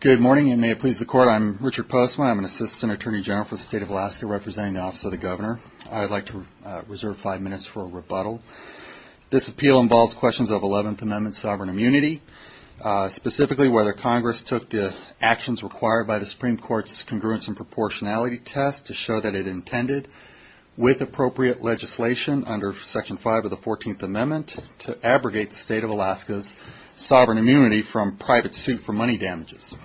Good morning, and may it please the Court, I'm Richard Postman. I'm an Assistant Attorney General for the State of Alaska, representing the Office of the Governor. I'd like to reserve five minutes for a rebuttal. This appeal involves questions of Eleventh Amendment sovereign immunity, specifically whether Congress took the actions required by the Supreme Court's congruence and proportionality test to show that it intended, with appropriate legislation under Section 5 of the Fourteenth Amendment, to abrogate the State of Alaska's sovereign immunity from private suit for money damages.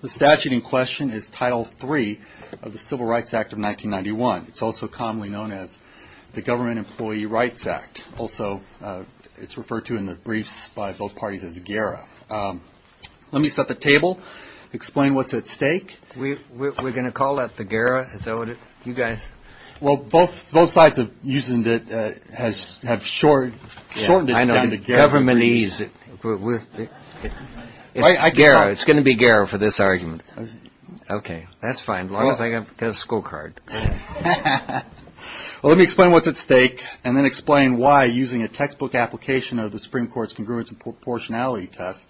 The statute in question is Title III of the Civil Rights Act of 1991. It's also commonly known as the Government Employee Rights Act. Also, it's referred to in the briefs by both parties as GARA. Let me set the table, explain what's at stake. We're going to call that the GARA, is that what you guys? Well, both sides have shortened it down to GARA. Government E's. It's going to be GARA for this argument. Okay, that's fine, as long as I get a school card. Well, let me explain what's at stake, and then explain why, using a textbook application of the Supreme Court's congruence and proportionality test,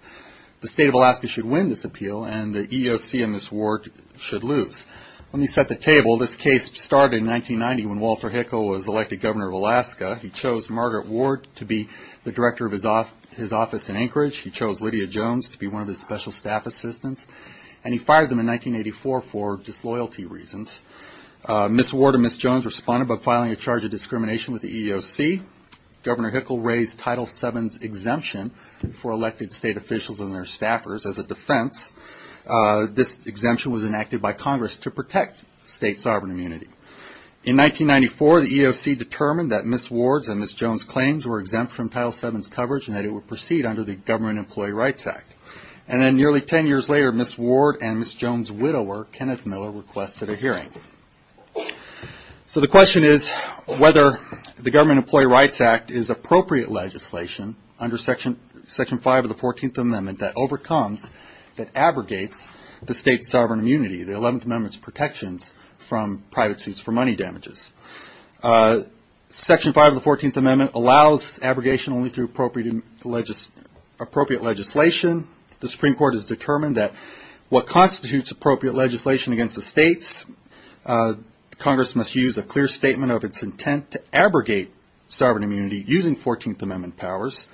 the State of Alaska should win this case, or should lose. Let me set the table. This case started in 1990 when Walter Hickel was elected Governor of Alaska. He chose Margaret Ward to be the director of his office in Anchorage. He chose Lydia Jones to be one of the special staff assistants, and he fired them in 1984 for disloyalty reasons. Ms. Ward and Ms. Jones responded by filing a charge of discrimination with the EEOC. Governor Hickel raised Title VII's exemption for elected state officials and their staffers as a defense. This exemption was enacted by Congress to protect state sovereign immunity. In 1994, the EEOC determined that Ms. Ward's and Ms. Jones' claims were exempt from Title VII's coverage, and that it would proceed under the Government Employee Rights Act. And then nearly 10 years later, Ms. Ward and Ms. Jones' widower, Kenneth Miller, requested a hearing. So the question is whether the Government Employee Rights Act is appropriate legislation under Section 5 of the 14th Amendment that overcomes, that abrogates, the state's sovereign immunity, the 11th Amendment's protections from private suits for money damages. Section 5 of the 14th Amendment allows abrogation only through appropriate legislation. The Supreme Court has determined that what constitutes appropriate legislation against the states, Congress must use a clear statement of its intent to abrogate sovereign immunity using 14th Amendment powers.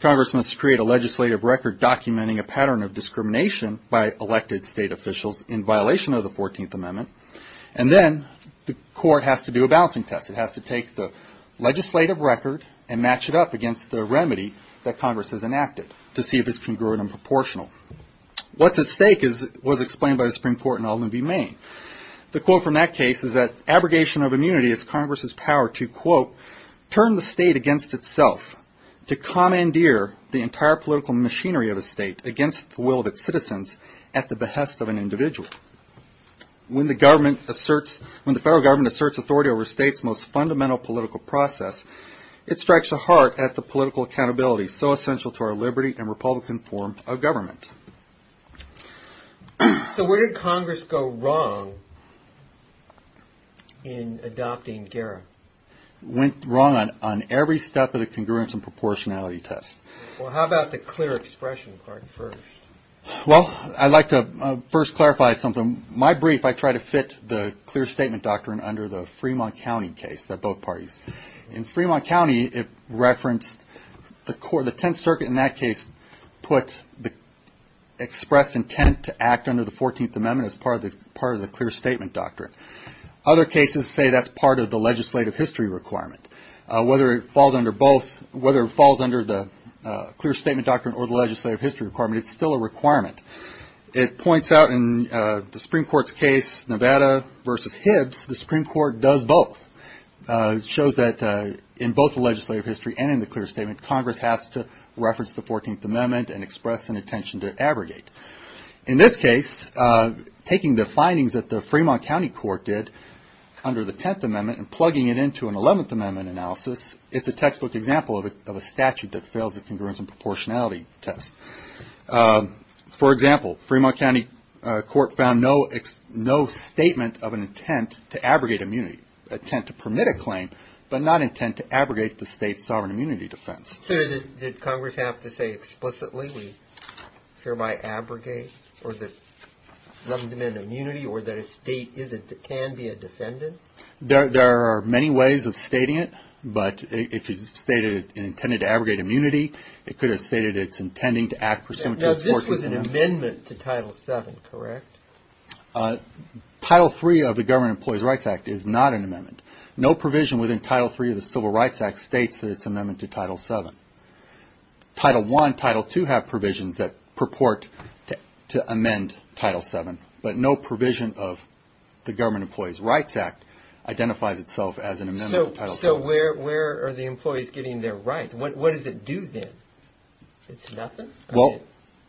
Congress must create a legislative record documenting a pattern of discrimination by elected state officials in violation of the 14th Amendment. And then the court has to do a balancing test. It has to take the legislative record and match it up against the remedy that Congress has enacted to see if it's congruent and proportional. What's at stake was explained by the Supreme Court in Alden v. Maine. The quote from that case is that abrogation of immunity is Congress's power to, quote, turn the state against its self, to commandeer the entire political machinery of the state against the will of its citizens at the behest of an individual. When the government asserts, when the federal government asserts authority over a state's most fundamental political process, it strikes a heart at the political accountability so essential to our liberty and republican form of government. So where did Congress go wrong in adopting GARA? It went wrong on every step of the congruence and proportionality test. Well, how about the clear expression part first? Well, I'd like to first clarify something. My brief, I try to fit the clear statement doctrine under the Fremont County case, that both parties. In Fremont County, it referenced the court, the Tenth Circuit in that case put the expressed intent to act under the 14th Amendment as part of the clear statement doctrine. Other cases say that's part of the legislative history requirement. Whether it falls under both, whether it falls under the clear statement doctrine or the legislative history requirement, it's still a requirement. It points out in the Supreme Court's case, Nevada versus Hibbs, the Supreme Court does both. It shows that in both the legislative history and in the clear statement, Congress has to reference the 14th Amendment and express an intention to abrogate. In this case, taking the findings that the Fremont County Court did under the Tenth Amendment and plugging it into an Eleventh Amendment analysis, it's a textbook example of a statute that fails the congruence and proportionality test. For example, Fremont County Court found no statement of an intent to abrogate immunity, intent to permit a claim, but not intent to abrogate the state's sovereign immunity defense. So did Congress have to say explicitly, we hereby abrogate or that 11th Amendment immunity or that a state can be a defendant? There are many ways of stating it, but if it's stated and intended to abrogate immunity, it could have stated it's intending to act pursuant to the 14th Amendment. Now, this was an amendment to Title VII, correct? Title III of the Government Employees' Rights Act is not an amendment. No provision within Title III of the Civil Rights Act states that it's an amendment to Title VII. Title I, Title II have provisions that purport to amend Title VII, but no provision of the Government Employees' Rights Act identifies itself as an amendment to Title VII. So where are the employees getting their rights? What does it do then? It's nothing? Well,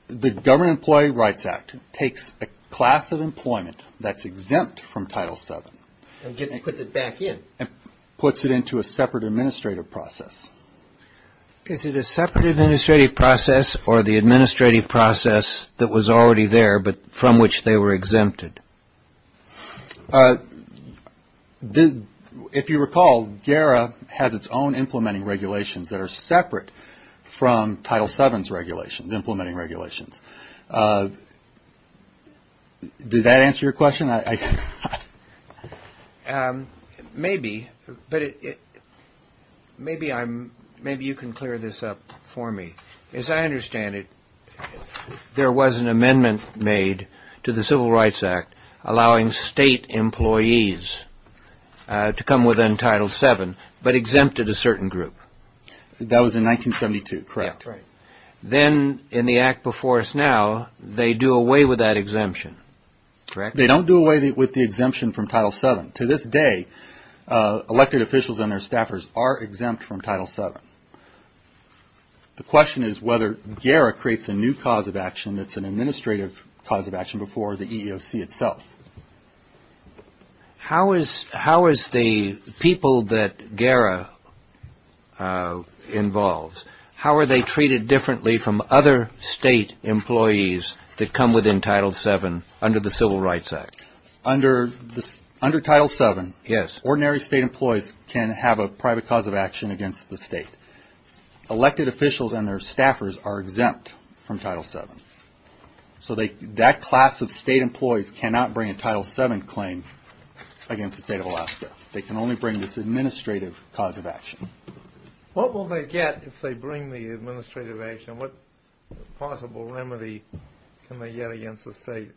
the Government Employees' Rights Act takes a class of employment that's exempt from Title VII. And puts it back in. Puts it into a separate administrative process. Is it a separate administrative process or the administrative process that was already there, but from which they were exempted? If you recall, GARA has its own implementing regulations that are separate from Title VII's regulations, implementing regulations. Did that answer your question? Maybe, but maybe you can clear this up for me. As I understand it, there was an amendment made to the Civil Rights Act allowing state employees to come within Title VII, but exempted a certain group. That was in 1972, correct. Then, in the act before us now, they do away with that exemption, correct? They don't do away with the exemption from Title VII. To this day, elected officials and their staffers are exempt from Title VII. The question is whether GARA creates a new cause of action that's an administrative cause of action before the EEOC itself. How is the people that GARA involves, how are they treated differently from other state employees that come within Title VII under the Civil Rights Act? Under Title VII, ordinary state employees can have a private cause of action against the state. Elected officials and their staffers are exempt from Title VII. So that class of state employees cannot bring a Title VII claim against the state of Alaska. They can only bring this administrative cause of action. What will they get if they bring the administrative action? What possible remedy can they get against the state?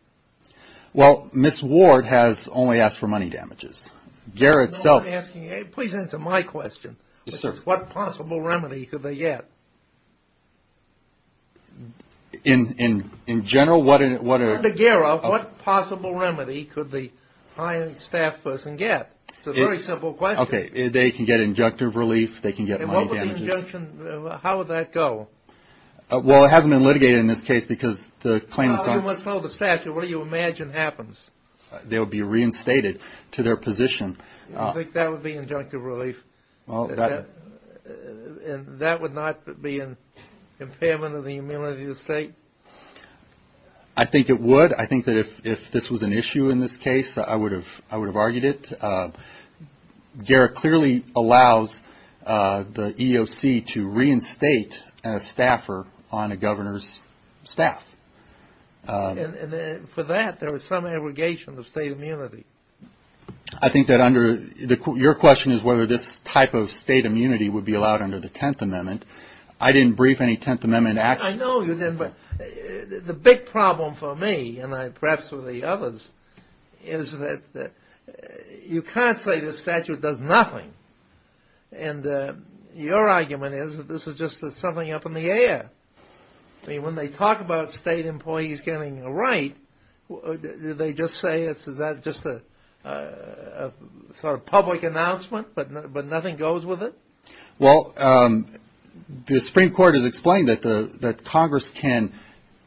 Well, Ms. Ward has only asked for money damages. Please answer my question. Yes, sir. What possible remedy could they get? In general, what are... Under GARA, what possible remedy could the high-end staff person get? It's a very simple question. Okay, they can get injunctive relief, they can get money damages. And what would the injunction, how would that go? Well, it hasn't been litigated in this case because the claimant's... Well, you must know the statute. What do you imagine happens? They will be reinstated to their position. You think that would be injunctive relief? Well, that... And that would not be an impairment of the immunity of the state? I think it would. I think that if this was an issue in this case, I would have argued it. GARA clearly allows the EEOC to reinstate a staffer on a governor's staff. And for that, there was some abrogation of state immunity. I think that under... Your question is whether this type of state immunity would be allowed under the Tenth Amendment. I didn't brief any Tenth Amendment action. I know you didn't, but the big problem for me, and perhaps for the others, is that you can't say the statute does nothing. And your argument is that this is just something up in the air. I mean, when they talk about state employees getting a right, do they just say it's just a sort of public announcement, but nothing goes with it? Well, the Supreme Court has explained that Congress can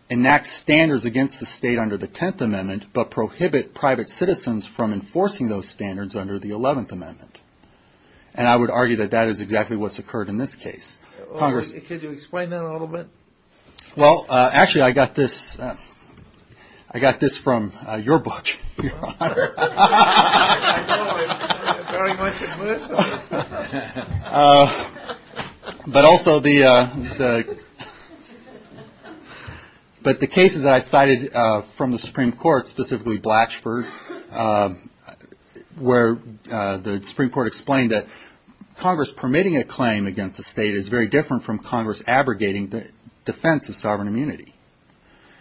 enact standards against the state under the Tenth Amendment but prohibit private citizens from enforcing those standards under the Eleventh Amendment. And I would argue that that is exactly what's occurred in this case. Could you explain that a little bit? Well, actually, I got this from your book, Your Honor. But also the cases that I cited from the Supreme Court, specifically Blatchford, where the Supreme Court explained that Congress permitting a claim against the state is very different from Congress abrogating the defense of sovereign immunity.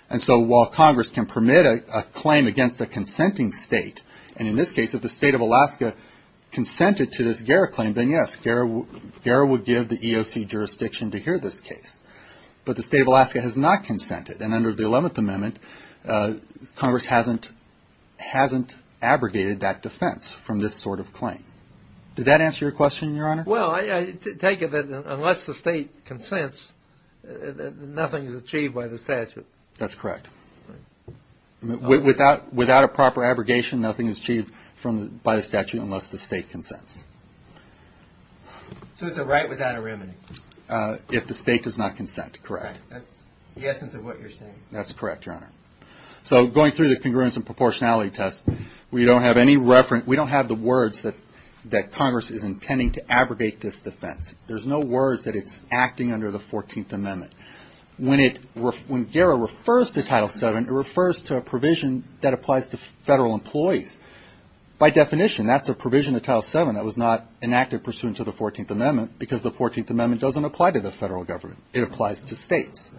And so while Congress can permit a claim against a consenting state, and in this case if the state of Alaska consented to this GERA claim, then yes, GERA would give the EOC jurisdiction to hear this case. But the state of Alaska has not consented, and under the Eleventh Amendment, Congress hasn't abrogated that defense from this sort of claim. Did that answer your question, Your Honor? Well, I take it that unless the state consents, nothing is achieved by the statute. That's correct. Without a proper abrogation, nothing is achieved by the statute unless the state consents. So it's a right without a remedy. If the state does not consent, correct. That's the essence of what you're saying. That's correct, Your Honor. So going through the congruence and proportionality test, we don't have any reference. We don't have the words that Congress is intending to abrogate this defense. There's no words that it's acting under the Fourteenth Amendment. When GERA refers to Title VII, it refers to a provision that applies to federal employees. By definition, that's a provision of Title VII that was not enacted pursuant to the Fourteenth Amendment because the Fourteenth Amendment doesn't apply to the federal government. It applies to states.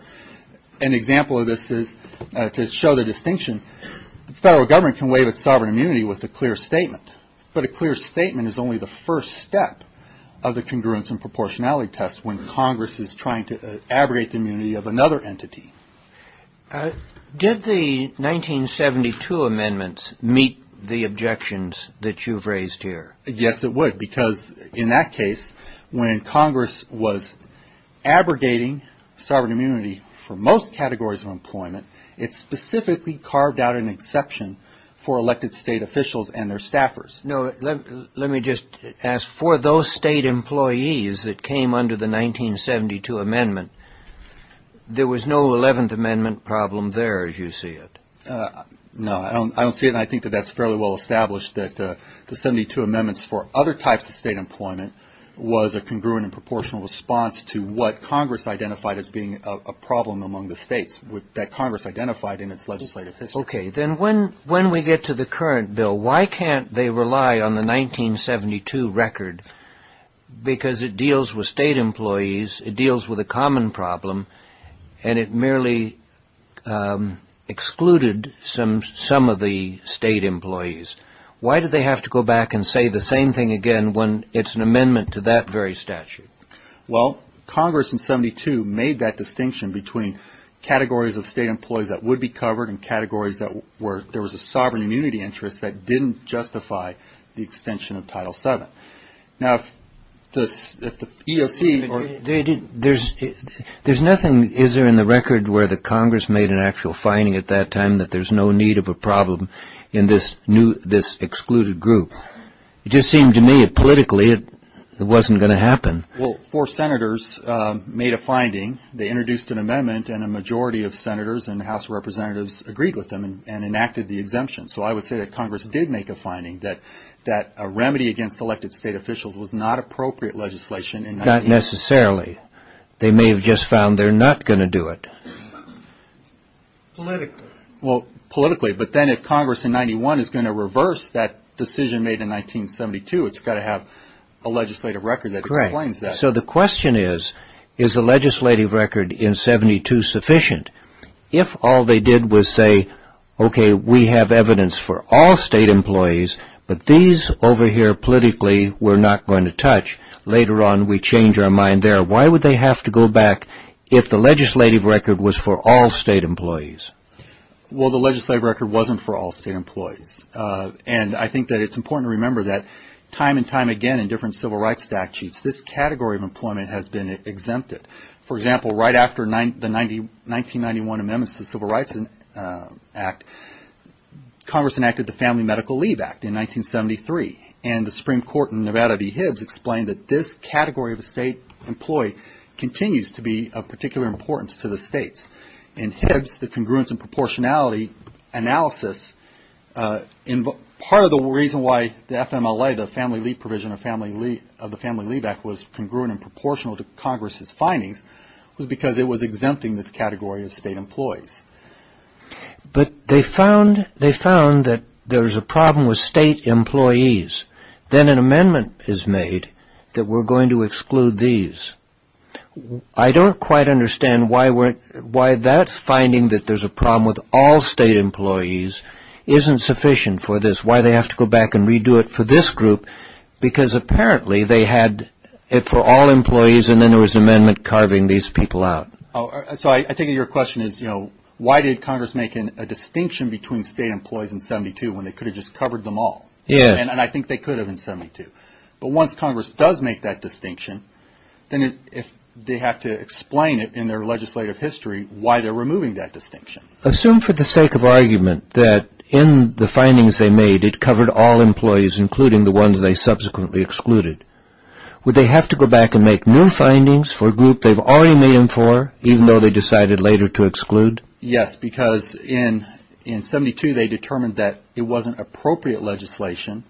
An example of this is to show the distinction, the federal government can waive its sovereign immunity with a clear statement. But a clear statement is only the first step of the congruence and proportionality test when Congress is trying to abrogate the immunity of another entity. Did the 1972 amendments meet the objections that you've raised here? Yes, it would. Because in that case, when Congress was abrogating sovereign immunity for most categories of employment, it specifically carved out an exception for elected state officials and their staffers. No, let me just ask. For those state employees that came under the 1972 amendment, there was no Eleventh Amendment problem there, as you see it. No, I don't see it. And I think that that's fairly well established that the 72 amendments for other types of state employment was a congruent and proportional response to what Congress identified as being a problem among the states, that Congress identified in its legislative history. Okay. Then when we get to the current bill, why can't they rely on the 1972 record? Because it deals with state employees, it deals with a common problem, and it merely excluded some of the state employees. Why did they have to go back and say the same thing again when it's an amendment to that very statute? Well, Congress in 72 made that distinction between categories of state employees that would be covered and categories where there was a sovereign immunity interest that didn't justify the extension of Title VII. Now, if the EEOC or the State Employees' Administration There's nothing, is there, in the record where the Congress made an actual finding at that time that there's no need of a problem in this excluded group? It just seemed to me politically it wasn't going to happen. Well, four senators made a finding. They introduced an amendment and a majority of senators and House of Representatives agreed with them and enacted the exemption. So I would say that Congress did make a finding that a remedy against elected state officials was not appropriate legislation. Not necessarily. They may have just found they're not going to do it. Politically. Well, politically. But then if Congress in 91 is going to reverse that decision made in 1972, it's got to have a legislative record that explains that. So the question is, is the legislative record in 72 sufficient? If all they did was say, okay, we have evidence for all state employees, but these over here politically we're not going to touch, later on we change our mind there. Why would they have to go back if the legislative record was for all state employees? Well, the legislative record wasn't for all state employees. And I think that it's important to remember that time and time again in different civil rights statutes, this category of employment has been exempted. For example, right after the 1991 amendments to the Civil Rights Act, Congress enacted the Family Medical Leave Act in 1973, and the Supreme Court in Nevada v. Hibbs explained that this category of a state employee continues to be of particular importance to the states. In Hibbs, the congruence and proportionality analysis, part of the reason why the FMLA, the Family Leave Provision of the Family Leave Act, was congruent and proportional to Congress's findings was because it was exempting this category of state employees. But they found that there's a problem with state employees. Then an amendment is made that we're going to exclude these. I don't quite understand why that finding that there's a problem with all state employees isn't sufficient for this, why they have to go back and redo it for this group, because apparently they had it for all employees and then there was an amendment carving these people out. So I take it your question is, you know, why did Congress make a distinction between state employees in 72 when they could have just covered them all? Yeah. And I think they could have in 72. But once Congress does make that distinction, then they have to explain it in their legislative history why they're removing that distinction. Assume for the sake of argument that in the findings they made, it covered all employees, including the ones they subsequently excluded. Would they have to go back and make new findings for a group they've already made them for, even though they decided later to exclude? Yes, because in 72, they determined that it wasn't appropriate legislation.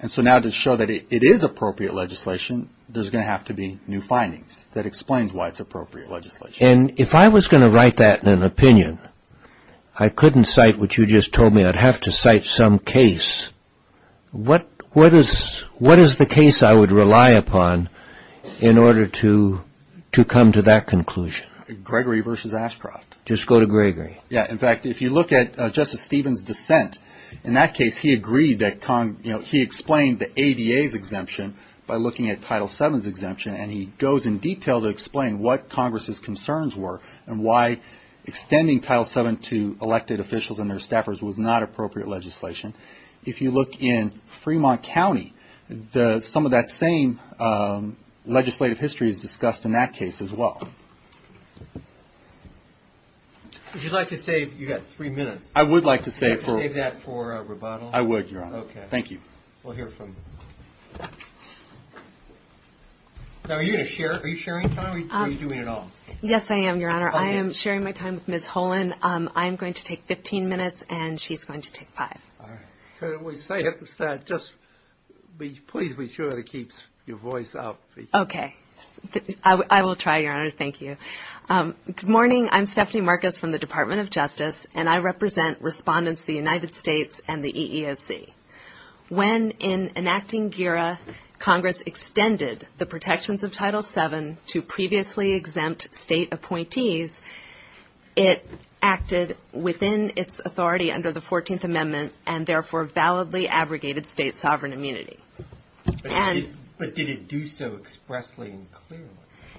And so now to show that it is appropriate legislation, there's going to have to be new findings that explains why it's appropriate legislation. And if I was going to write that in an opinion, I couldn't cite what you just told me. I'd have to cite some case. What is the case I would rely upon in order to come to that conclusion? Gregory versus Ashcroft. Just go to Gregory. Yeah. In fact, if you look at Justice Stevens' dissent in that case, he explained the ADA's exemption by looking at Title VII's exemption, and he goes in detail to explain what Congress's concerns were and why extending Title VII to elected officials and their staffers was not appropriate legislation. If you look in Fremont County, some of that same legislative history is discussed in that case as well. If you'd like to save, you've got three minutes. I would like to save for a rebuttal. I would, Your Honor. Okay. Thank you. We'll hear from you. Now, are you going to share? Are you sharing time? Are you doing it all? Yes, I am, Your Honor. I am sharing my time with Ms. Holan. I am going to take 15 minutes, and she's going to take five. All right. Could we say at the start, just please be sure to keep your voice up. Okay. I will try, Your Honor. Thank you. Good morning. I'm Stephanie Marcus from the Department of Justice, and I represent respondents to the United States and the EEOC. When, in enacting GERA, Congress extended the protections of Title VII to previously exempt state appointees, it acted within its authority under the 14th Amendment and therefore validly abrogated state sovereign immunity. But did it do so expressly and clearly?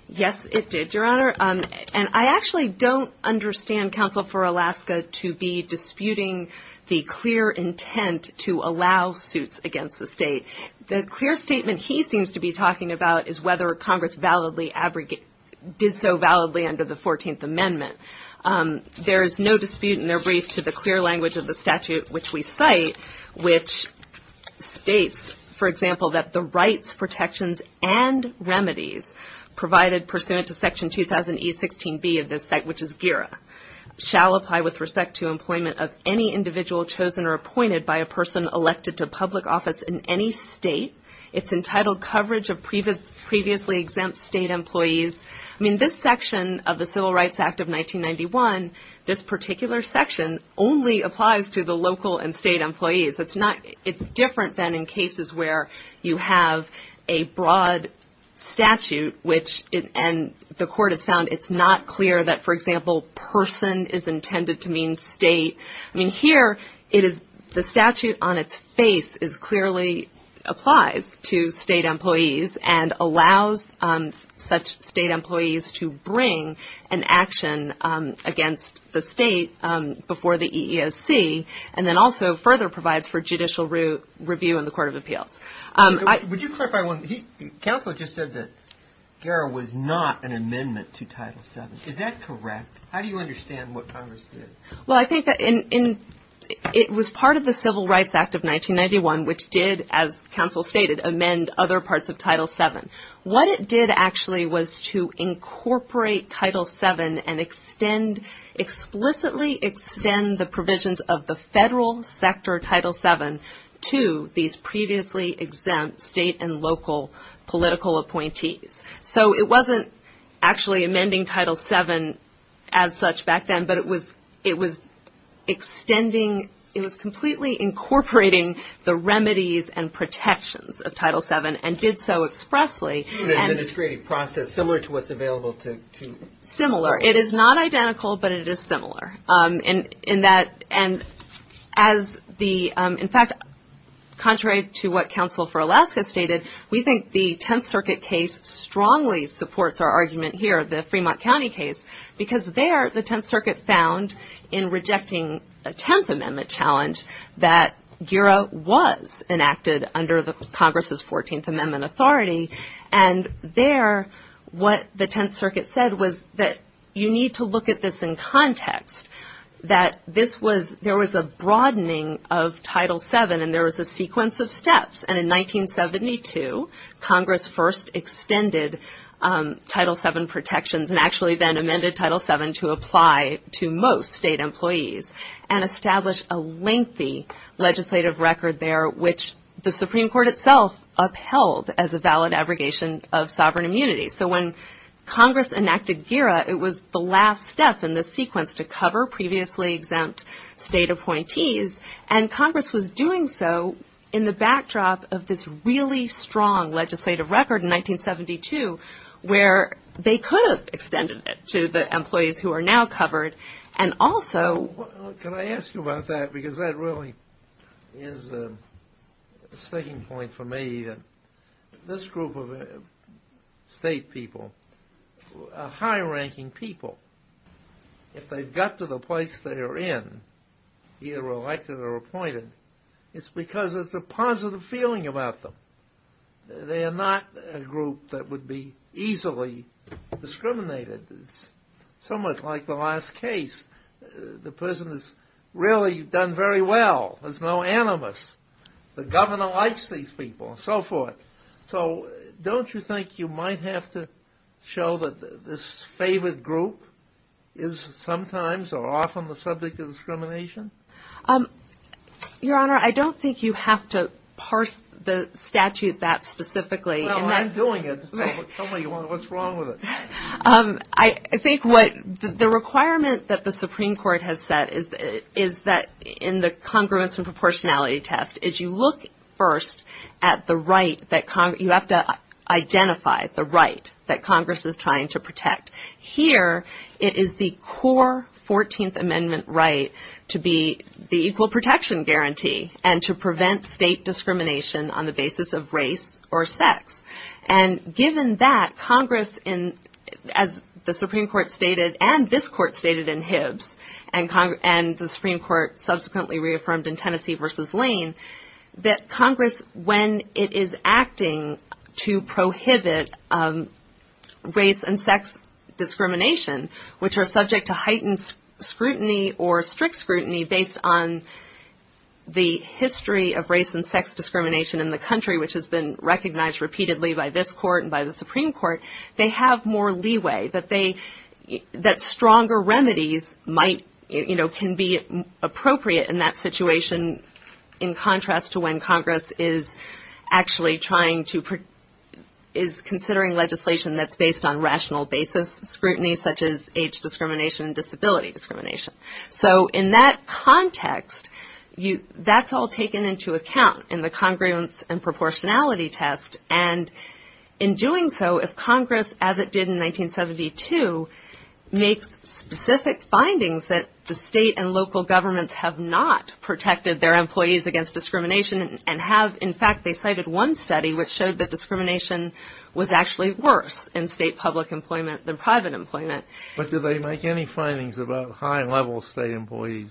Yes, it did, Your Honor. And I actually don't understand counsel for Alaska to be disputing the clear intent to allow suits against the state. The clear statement he seems to be talking about is whether Congress did so validly under the 14th Amendment. There is no dispute in their brief to the clear language of the statute which we cite, which states, for example, that the rights, protections, and remedies provided pursuant to Section 2000E16B of this Act, which is GERA, shall apply with respect to employment of any individual chosen or appointed by a person elected to public office in any state. It's entitled coverage of previously exempt state employees. I mean, this section of the Civil Rights Act of 1991, this particular section only applies to the local and state employees. It's different than in cases where you have a broad statute and the court has found it's not clear that, for example, person is intended to mean state. I mean, here, the statute on its face clearly applies to state employees and allows such state employees to bring an action against the state before the EEOC and then also further provides for judicial review in the Court of Appeals. Would you clarify one? Counsel just said that GERA was not an amendment to Title VII. Is that correct? How do you understand what Congress did? Well, I think that it was part of the Civil Rights Act of 1991, which did, as counsel stated, amend other parts of Title VII. What it did, actually, was to incorporate Title VII and explicitly extend the provisions of the federal sector Title VII to these previously exempt state and local political appointees. So it wasn't actually amending Title VII as such back then, but it was extending, it was completely incorporating the remedies and protections of Title VII and did so expressly. It was an administrative process similar to what's available to the circuit. Similar. It is not identical, but it is similar. In fact, contrary to what counsel for Alaska stated, we think the Tenth Circuit case strongly supports our argument here, the Fremont County case, because there the Tenth Circuit found in rejecting a Tenth Amendment challenge that GERA was enacted under Congress's Fourteenth Amendment authority, and there what the Tenth Circuit said was that you need to look at this in context, that there was a broadening of Title VII and there was a sequence of steps. And in 1972, Congress first extended Title VII protections and actually then amended Title VII to apply to most state employees and establish a lengthy legislative record there, which the Supreme Court itself upheld as a valid abrogation of sovereign immunity. So when Congress enacted GERA, it was the last step in the sequence to cover previously exempt state appointees, and Congress was doing so in the backdrop of this really strong legislative record in 1972, where they could have extended it to the employees who are now covered, and also... Well, can I ask you about that, because that really is a sticking point for me, that this group of state people are high-ranking people. If they've got to the place they are in, either elected or appointed, it's because there's a positive feeling about them. They are not a group that would be easily discriminated. It's somewhat like the last case. The person has really done very well. There's no animus. The governor likes these people and so forth. So don't you think you might have to show that this favored group is sometimes or often the subject of discrimination? Your Honor, I don't think you have to parse the statute that specifically. Well, I'm doing it. Tell me what's wrong with it. I think the requirement that the Supreme Court has set is that in the congruence and proportionality test, is you look first at the right that Congress – you have to identify the right that Congress is trying to protect. Here, it is the core 14th Amendment right to be the equal protection guarantee and to prevent state discrimination on the basis of race or sex. Given that, Congress, as the Supreme Court stated and this Court stated in Hibbs and the Supreme Court subsequently reaffirmed in Tennessee v. Lane, that Congress, when it is acting to prohibit race and sex discrimination, which are subject to heightened scrutiny or strict scrutiny based on the history of race and sex discrimination in the country, which has been recognized repeatedly by this Court and by the Supreme Court, they have more leeway that stronger remedies can be appropriate in that situation in contrast to when Congress is actually trying to – discrimination and disability discrimination. So in that context, that's all taken into account in the congruence and proportionality test. And in doing so, if Congress, as it did in 1972, makes specific findings that the state and local governments have not protected their employees against discrimination and have – in fact, they cited one study which showed that discrimination was actually worse in state public employment than private employment. But did they make any findings about high-level state employees?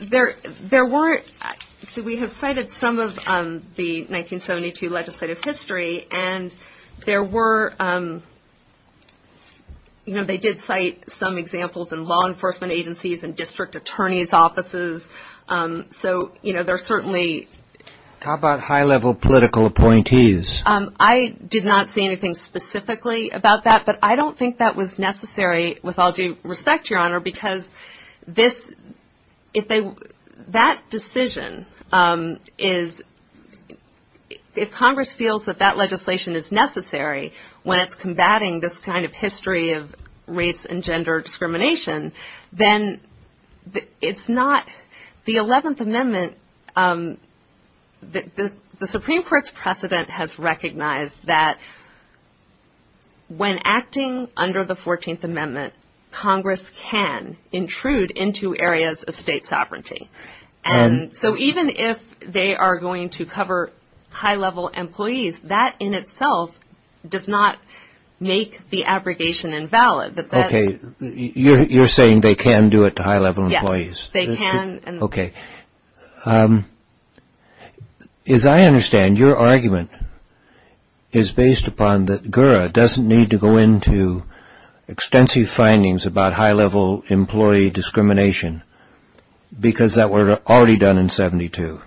There weren't – so we have cited some of the 1972 legislative history, and there were – you know, they did cite some examples in law enforcement agencies and district attorney's offices. So, you know, there are certainly – How about high-level political appointees? I did not see anything specifically about that, but I don't think that was necessary with all due respect, Your Honor, because this – if they – that decision is – if Congress feels that that legislation is necessary when it's combating this kind of history of race and gender discrimination, then it's not – the 11th Amendment – the Supreme Court's precedent has recognized that when acting under the 14th Amendment, Congress can intrude into areas of state sovereignty. And so even if they are going to cover high-level employees, that in itself does not make the abrogation invalid. Okay, you're saying they can do it to high-level employees. Yes, they can. Okay. As I understand, your argument is based upon that GURA doesn't need to go into extensive findings about high-level employee discrimination because that were already done in 72.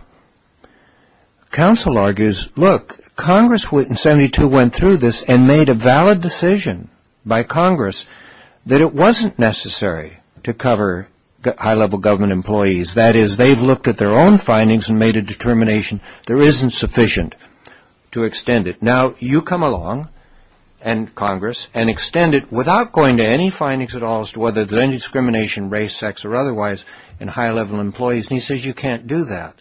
Counsel argues, look, Congress in 72 went through this and made a valid decision by Congress that it wasn't necessary to cover high-level government employees. That is, they've looked at their own findings and made a determination there isn't sufficient to extend it. Now, you come along, and Congress, and extend it without going to any findings at all as to whether there's any discrimination in race, sex, or otherwise in high-level employees. And he says you can't do that.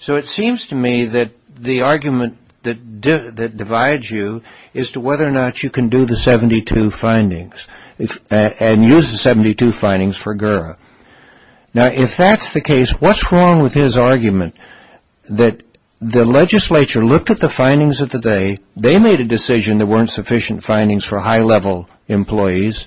So it seems to me that the argument that divides you is to whether or not you can do the 72 findings and use the 72 findings for GURA. Now, if that's the case, what's wrong with his argument that the legislature looked at the findings of the day, they made a decision there weren't sufficient findings for high-level employees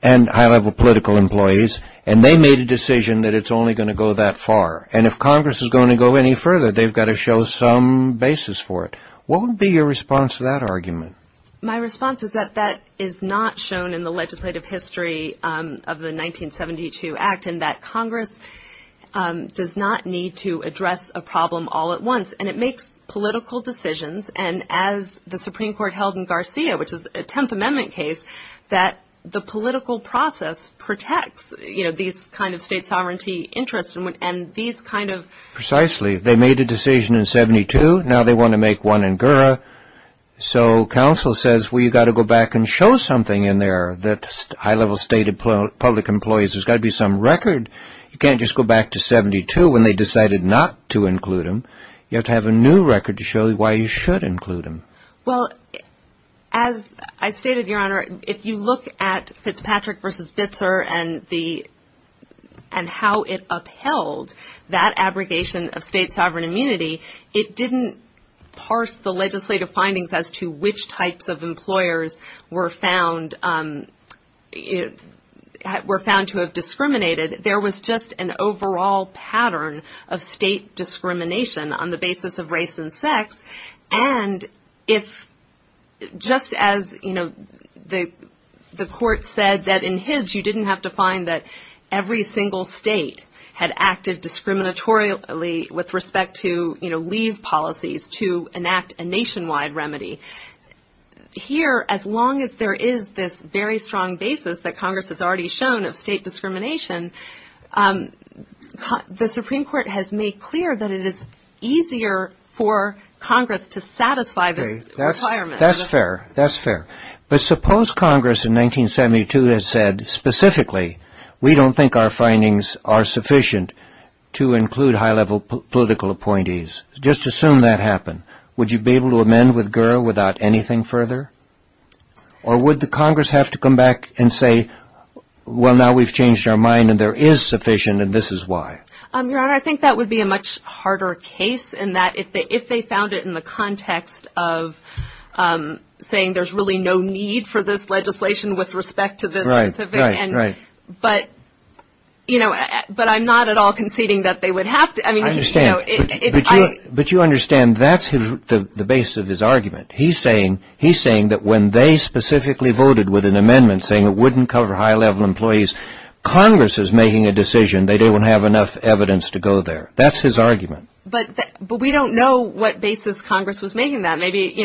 and high-level political employees, and they made a decision that it's only going to go that far. And if Congress is going to go any further, they've got to show some basis for it. What would be your response to that argument? My response is that that is not shown in the legislative history of the 1972 act and that Congress does not need to address a problem all at once. And it makes political decisions. And as the Supreme Court held in Garcia, which is a Tenth Amendment case, that the political process protects, you know, these kind of state sovereignty interests and these kind of... Precisely. They made a decision in 72. Now they want to make one in GURA. So counsel says, well, you've got to go back and show something in there that high-level state public employees. There's got to be some record. You can't just go back to 72 when they decided not to include them. You have to have a new record to show why you should include them. Well, as I stated, Your Honor, if you look at Fitzpatrick v. Vitzer and how it upheld that abrogation of state sovereign immunity, it didn't parse the legislative findings as to which types of employers were found to have discriminated. There was just an overall pattern of state discrimination on the basis of race and sex. And if just as, you know, the court said that in Hidge you didn't have to find that every single state had acted discriminatorily with respect to, you know, leave policies to enact a nationwide remedy. Here, as long as there is this very strong basis that Congress has already shown of state discrimination, the Supreme Court has made clear that it is easier for Congress to satisfy this requirement. That's fair. That's fair. But suppose Congress in 1972 had said specifically, we don't think our findings are sufficient to include high-level political appointees. Just assume that happened. Would you be able to amend with Gura without anything further? Or would the Congress have to come back and say, well, now we've changed our mind and there is sufficient and this is why? Your Honor, I think that would be a much harder case in that if they found it in the context of saying there's really no need for this legislation with respect to this specific. Right, right, right. But, you know, but I'm not at all conceding that they would have to. I understand, but you understand that's the basis of his argument. He's saying that when they specifically voted with an amendment saying it wouldn't cover high-level employees, Congress is making a decision that they won't have enough evidence to go there. That's his argument. But we don't know what basis Congress was making that. Maybe, you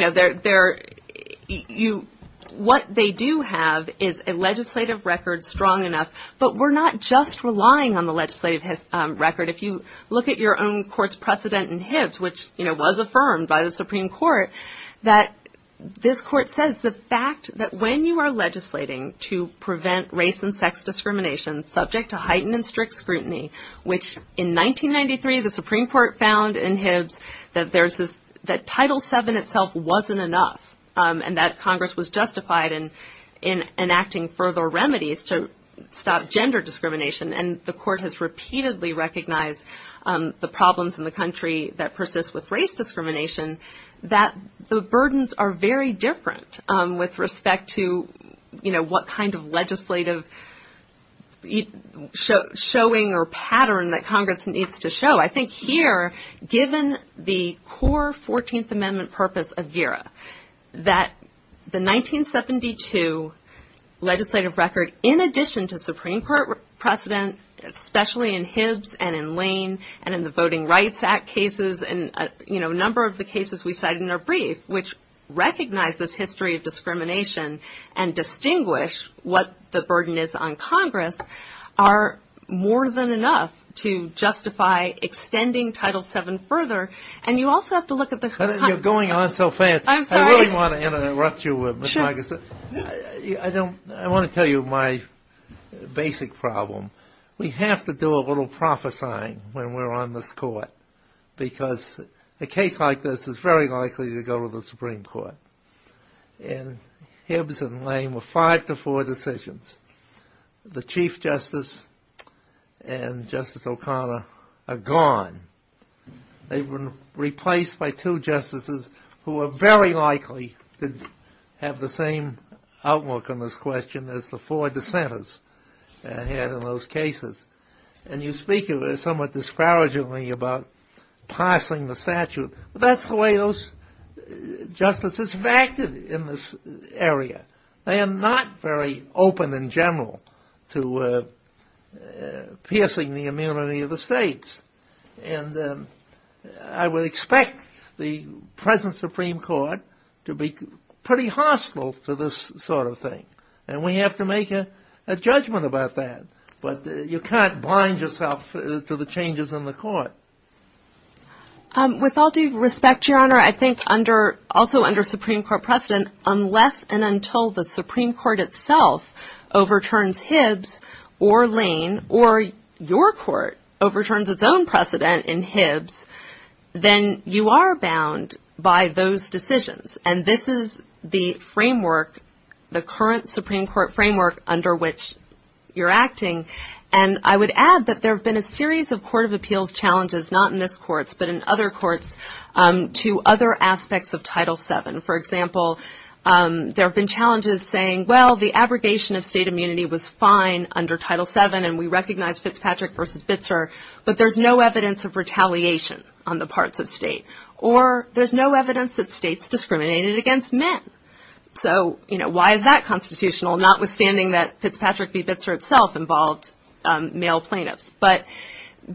know, what they do have is a legislative record strong enough, but we're not just relying on the legislative record. If you look at your own court's precedent in Hibbs, which, you know, was affirmed by the Supreme Court, that this court says the fact that when you are legislating to prevent race and sex discrimination subject to heightened and strict scrutiny, which in 1993 the Supreme Court found in Hibbs that Title VII itself wasn't enough and that Congress was justified in enacting further remedies to stop gender discrimination. And the court has repeatedly recognized the problems in the country that persist with race discrimination, that the burdens are very different with respect to, you know, what kind of legislative showing or pattern that Congress needs to show. I think here, given the core 14th Amendment purpose of GIRA, that the 1972 legislative record, in addition to Supreme Court precedent, especially in Hibbs and in Lane and in the Voting Rights Act cases and, you know, a number of the cases we cited in our brief, which recognize this history of discrimination and distinguish what the burden is on Congress, are more than enough to justify extending Title VII further. And you also have to look at the... You're going on so fast. I'm sorry. I really want to interrupt you, Ms. Marcus. I want to tell you my basic problem. We have to do a little prophesying when we're on this court because a case like this is very likely to go to the Supreme Court. In Hibbs and Lane were five to four decisions. The Chief Justice and Justice O'Connor are gone. They've been replaced by two justices who are very likely to have the same outlook on this question as the four dissenters had in those cases. And you speak somewhat disparagingly about passing the statute. That's the way those justices acted in this area. They are not very open in general to piercing the immunity of the states. And I would expect the present Supreme Court to be pretty hostile to this sort of thing. And we have to make a judgment about that. But you can't blind yourself to the changes in the court. With all due respect, Your Honor, I think also under Supreme Court precedent, unless and until the Supreme Court itself overturns Hibbs or Lane or your court overturns its own precedent in Hibbs, then you are bound by those decisions. And this is the framework, the current Supreme Court framework under which you're acting. And I would add that there have been a series of court of appeals challenges, not in this court but in other courts, to other aspects of Title VII. For example, there have been challenges saying, well, the abrogation of state immunity was fine under Title VII but there's no evidence of retaliation on the parts of state or there's no evidence that states discriminated against men. So why is that constitutional, notwithstanding that Fitzpatrick v. Bitzer itself involved male plaintiffs? But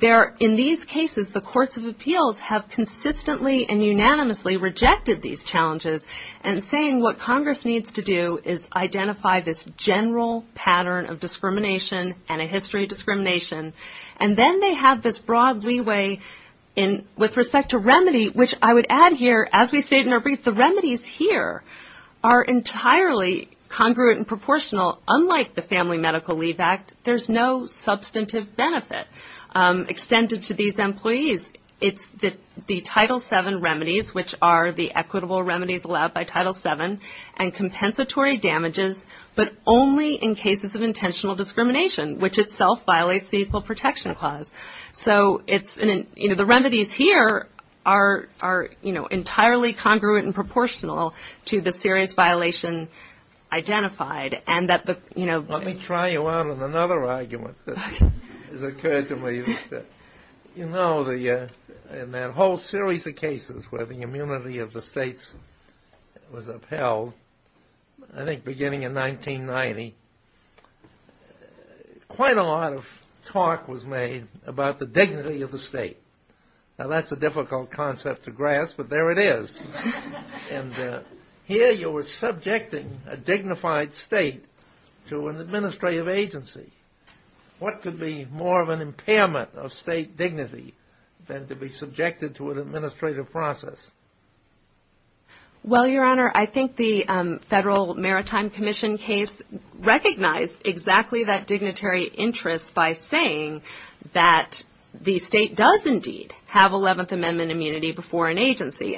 in these cases, the courts of appeals have consistently and unanimously rejected these challenges and saying what Congress needs to do is identify this general pattern of discrimination and a history of discrimination. And then they have this broad leeway with respect to remedy, which I would add here, as we state in our brief, the remedies here are entirely congruent and proportional, unlike the Family Medical Leave Act. There's no substantive benefit extended to these employees. It's the Title VII remedies, which are the equitable remedies allowed by Title VII, and compensatory damages, but only in cases of intentional discrimination, which itself violates the Equal Protection Clause. So the remedies here are entirely congruent and proportional to the serious violation identified. Let me try you out on another argument that has occurred to me. You know, in that whole series of cases where the immunity of the states was upheld, I think beginning in 1990, quite a lot of talk was made about the dignity of the state. Now that's a difficult concept to grasp, but there it is. And here you were subjecting a dignified state to an administrative agency. What could be more of an impairment of state dignity than to be subjected to an administrative process? Well, Your Honor, I think the Federal Maritime Commission case recognized exactly that dignitary interest by saying that the state does indeed have Eleventh Amendment immunity before an agency.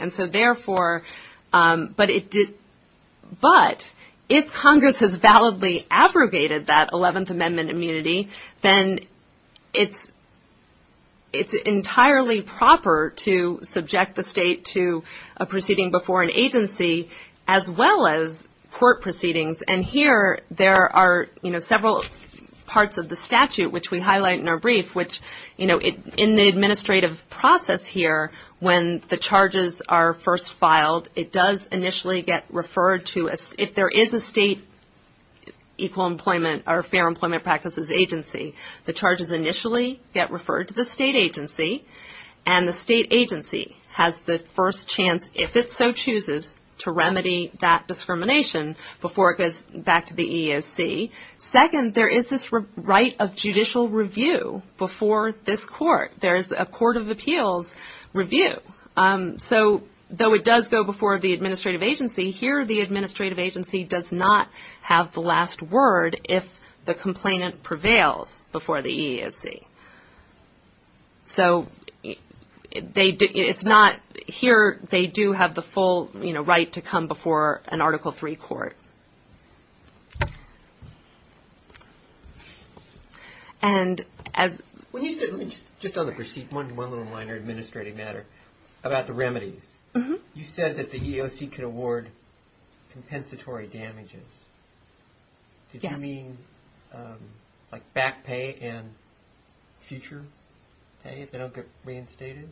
But if Congress has validly abrogated that Eleventh Amendment immunity, then it's entirely proper to subject the state to a proceeding before an agency, as well as court proceedings. And here there are several parts of the statute, which we highlight in our brief, which, you know, in the administrative process here, when the charges are first filed, it does initially get referred to, if there is a state equal employment or fair employment practices agency, the charges initially get referred to the state agency, and the state agency has the first chance, if it so chooses, to remedy that discrimination before it goes back to the EEOC. Second, there is this right of judicial review before this court. There is a court of appeals review. So, though it does go before the administrative agency, here the administrative agency does not have the last word if the complainant prevails before the EEOC. So, here they do have the full right to come before an Article III court. And as... Just on the proceeding, one little minor administrative matter, about the remedies. You said that the EEOC could award compensatory damages. Did you mean like back pay and future pay, if they don't get reinstated?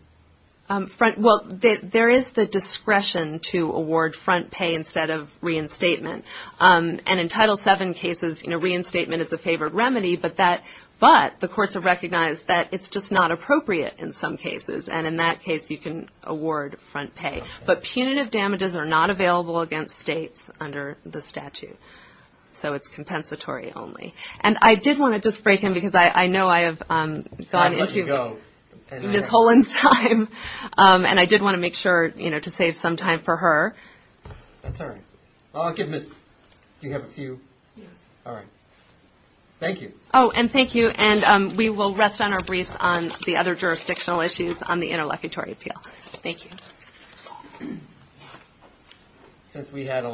Well, there is the discretion to award front pay instead of reinstatement. And in Title VII cases, reinstatement is a favored remedy, but the courts have recognized that it's just not appropriate in some cases. And in that case, you can award front pay. But punitive damages are not available against states under the statute. So, it's compensatory only. And I did want to just break in, because I know I have gone into Ms. Holen's time. And I did want to make sure to save some time for her. Oh, and thank you, and we will rest on our briefs on the other jurisdictional issues on the interlocutory appeal. Thank you. I'm Lee Holen,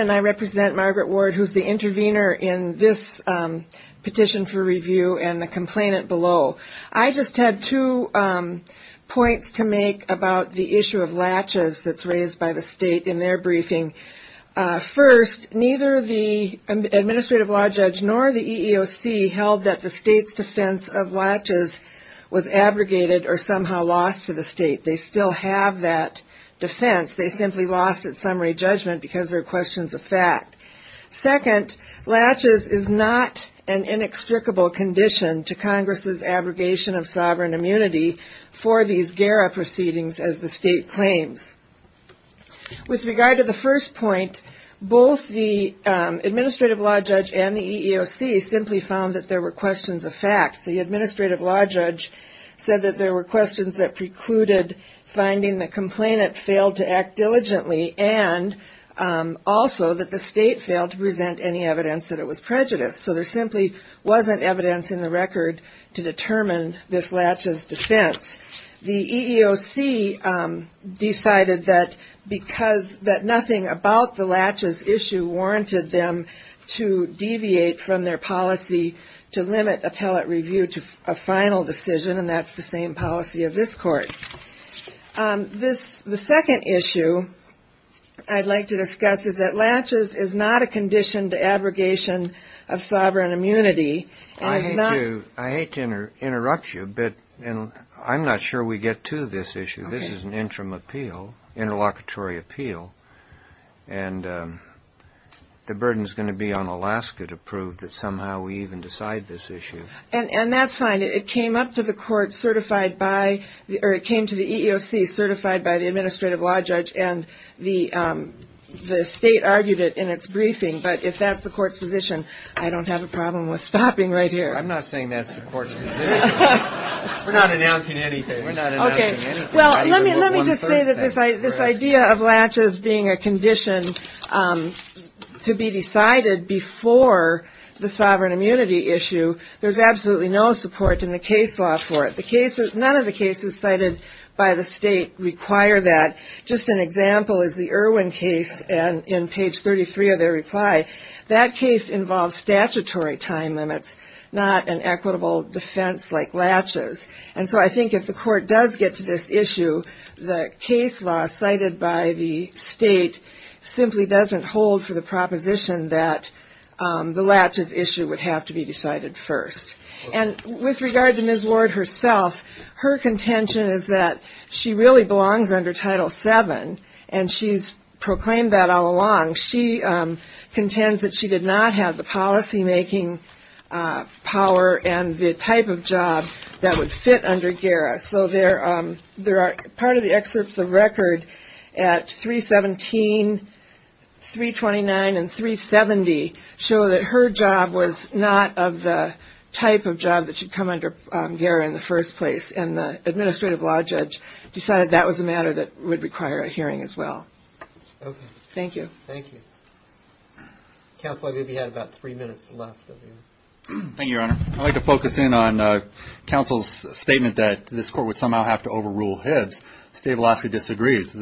and I represent Margaret Ward, who is the intervener in this petition for review and the complainant below. I just had two points to make about the issue of latches that's raised by the state in their briefing. First, neither the administrative law judge nor the EEOC held that the state's defense of latches was abrogated or somehow lost to the state. They still have that defense. They simply lost its summary judgment because there are questions of fact. Second, latches is not an inextricable condition to Congress's abrogation of sovereign immunity for these GARA proceedings, as the state claims. With regard to the first point, both the administrative law judge and the EEOC simply found that there were questions of fact. The administrative law judge said that there were questions that precluded finding the complainant failed to act diligently, and also that the state failed to present any evidence that it was prejudiced. So there simply wasn't evidence in the record to determine this latches defense. The EEOC decided that nothing about the latches issue warranted them to deviate from their policy to limit appellate review. And that's the same policy of this Court. The second issue I'd like to discuss is that latches is not a condition to abrogation of sovereign immunity. I hate to interrupt you, but I'm not sure we get to this issue. This is an interim appeal, interlocutory appeal, and the burden's going to be on Alaska to prove that somehow we even decide this issue. And that's fine, it came up to the Court certified by, or it came to the EEOC certified by the administrative law judge, and the state argued it in its briefing, but if that's the Court's position, I don't have a problem with stopping right here. I'm not saying that's the Court's position. We're not announcing anything. Well, let me just say that this idea of latches being a condition to be decided before the sovereign immunity issue, there's absolutely no support in the case law for it. None of the cases cited by the state require that. Just an example is the Irwin case, and in page 33 of their reply, that case involves statutory time limits, not an equitable defense like latches. And so I think if the Court does get to this issue, the case law cited by the state simply doesn't hold for the proposition that the latches issue would have to be decided first. And with regard to Ms. Ward herself, her contention is that she really belongs under Title VII, and she's proclaimed that all along. She contends that she did not have the policymaking power and the type of job that would fit her. So part of the excerpts of record at 317, 329, and 370 show that her job was not of the type of job that should come under GARA in the first place. And the administrative law judge decided that was a matter that would require a hearing as well. Thank you. Counsel, I believe you had about three minutes left. Thank you, Your Honor. I'd like to focus in on counsel's statement that this Court would somehow have to overrule Hibbs. State of Alaska disagrees.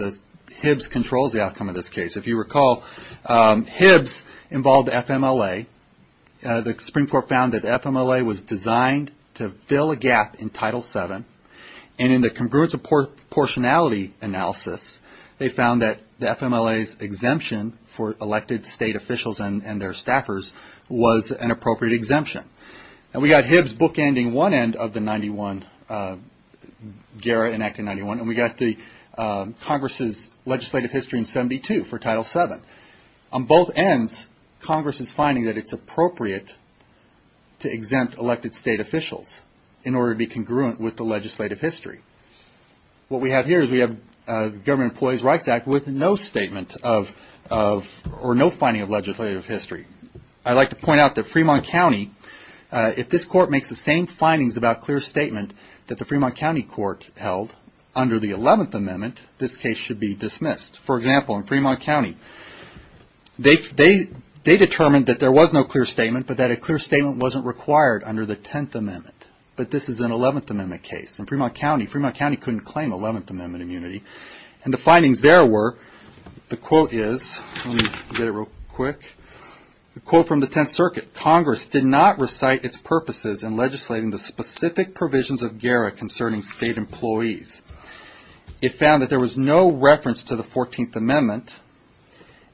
Hibbs controls the outcome of this case. If you recall, Hibbs involved FMLA. The Supreme Court found that FMLA was designed to fill a gap in Title VII. And in the congruence of proportionality analysis, they found that the FMLA's exemption for elected state officials and their staffers was an appropriate exemption. And we got Hibbs bookending one end of the 91, GARA enacting 91, and we got the Congress's legislative history in 72 for Title VII. On both ends, Congress is finding that it's appropriate to exempt elected state officials in order to be congruent with the legislative history of Title VII. What we have here is we have the Government Employees' Rights Act with no statement of, or no finding of legislative history. I'd like to point out that Fremont County, if this Court makes the same findings about clear statement that the Fremont County Court held under the 11th Amendment, this case should be dismissed. For example, in Fremont County, they determined that there was no clear statement, but that a clear statement wasn't required under the 10th Amendment. But this is an 11th Amendment case, and Fremont County couldn't claim 11th Amendment immunity. And the findings there were, the quote is, let me get it real quick. The quote from the 10th Circuit, Congress did not recite its purposes in legislating the specific provisions of GARA concerning state employees. It found that there was no reference to the 14th Amendment,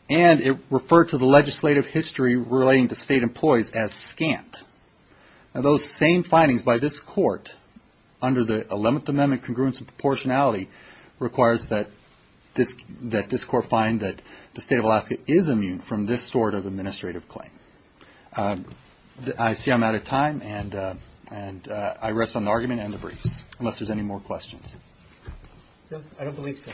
and it referred to the legislative history relating to state employees as scant. Now those same findings by this Court under the 11th Amendment congruence and proportionality requires that this Court find that the state of Alaska is immune from this sort of administrative claim. I see I'm out of time, and I rest on the argument and the briefs, unless there's any more questions. No, I don't believe so.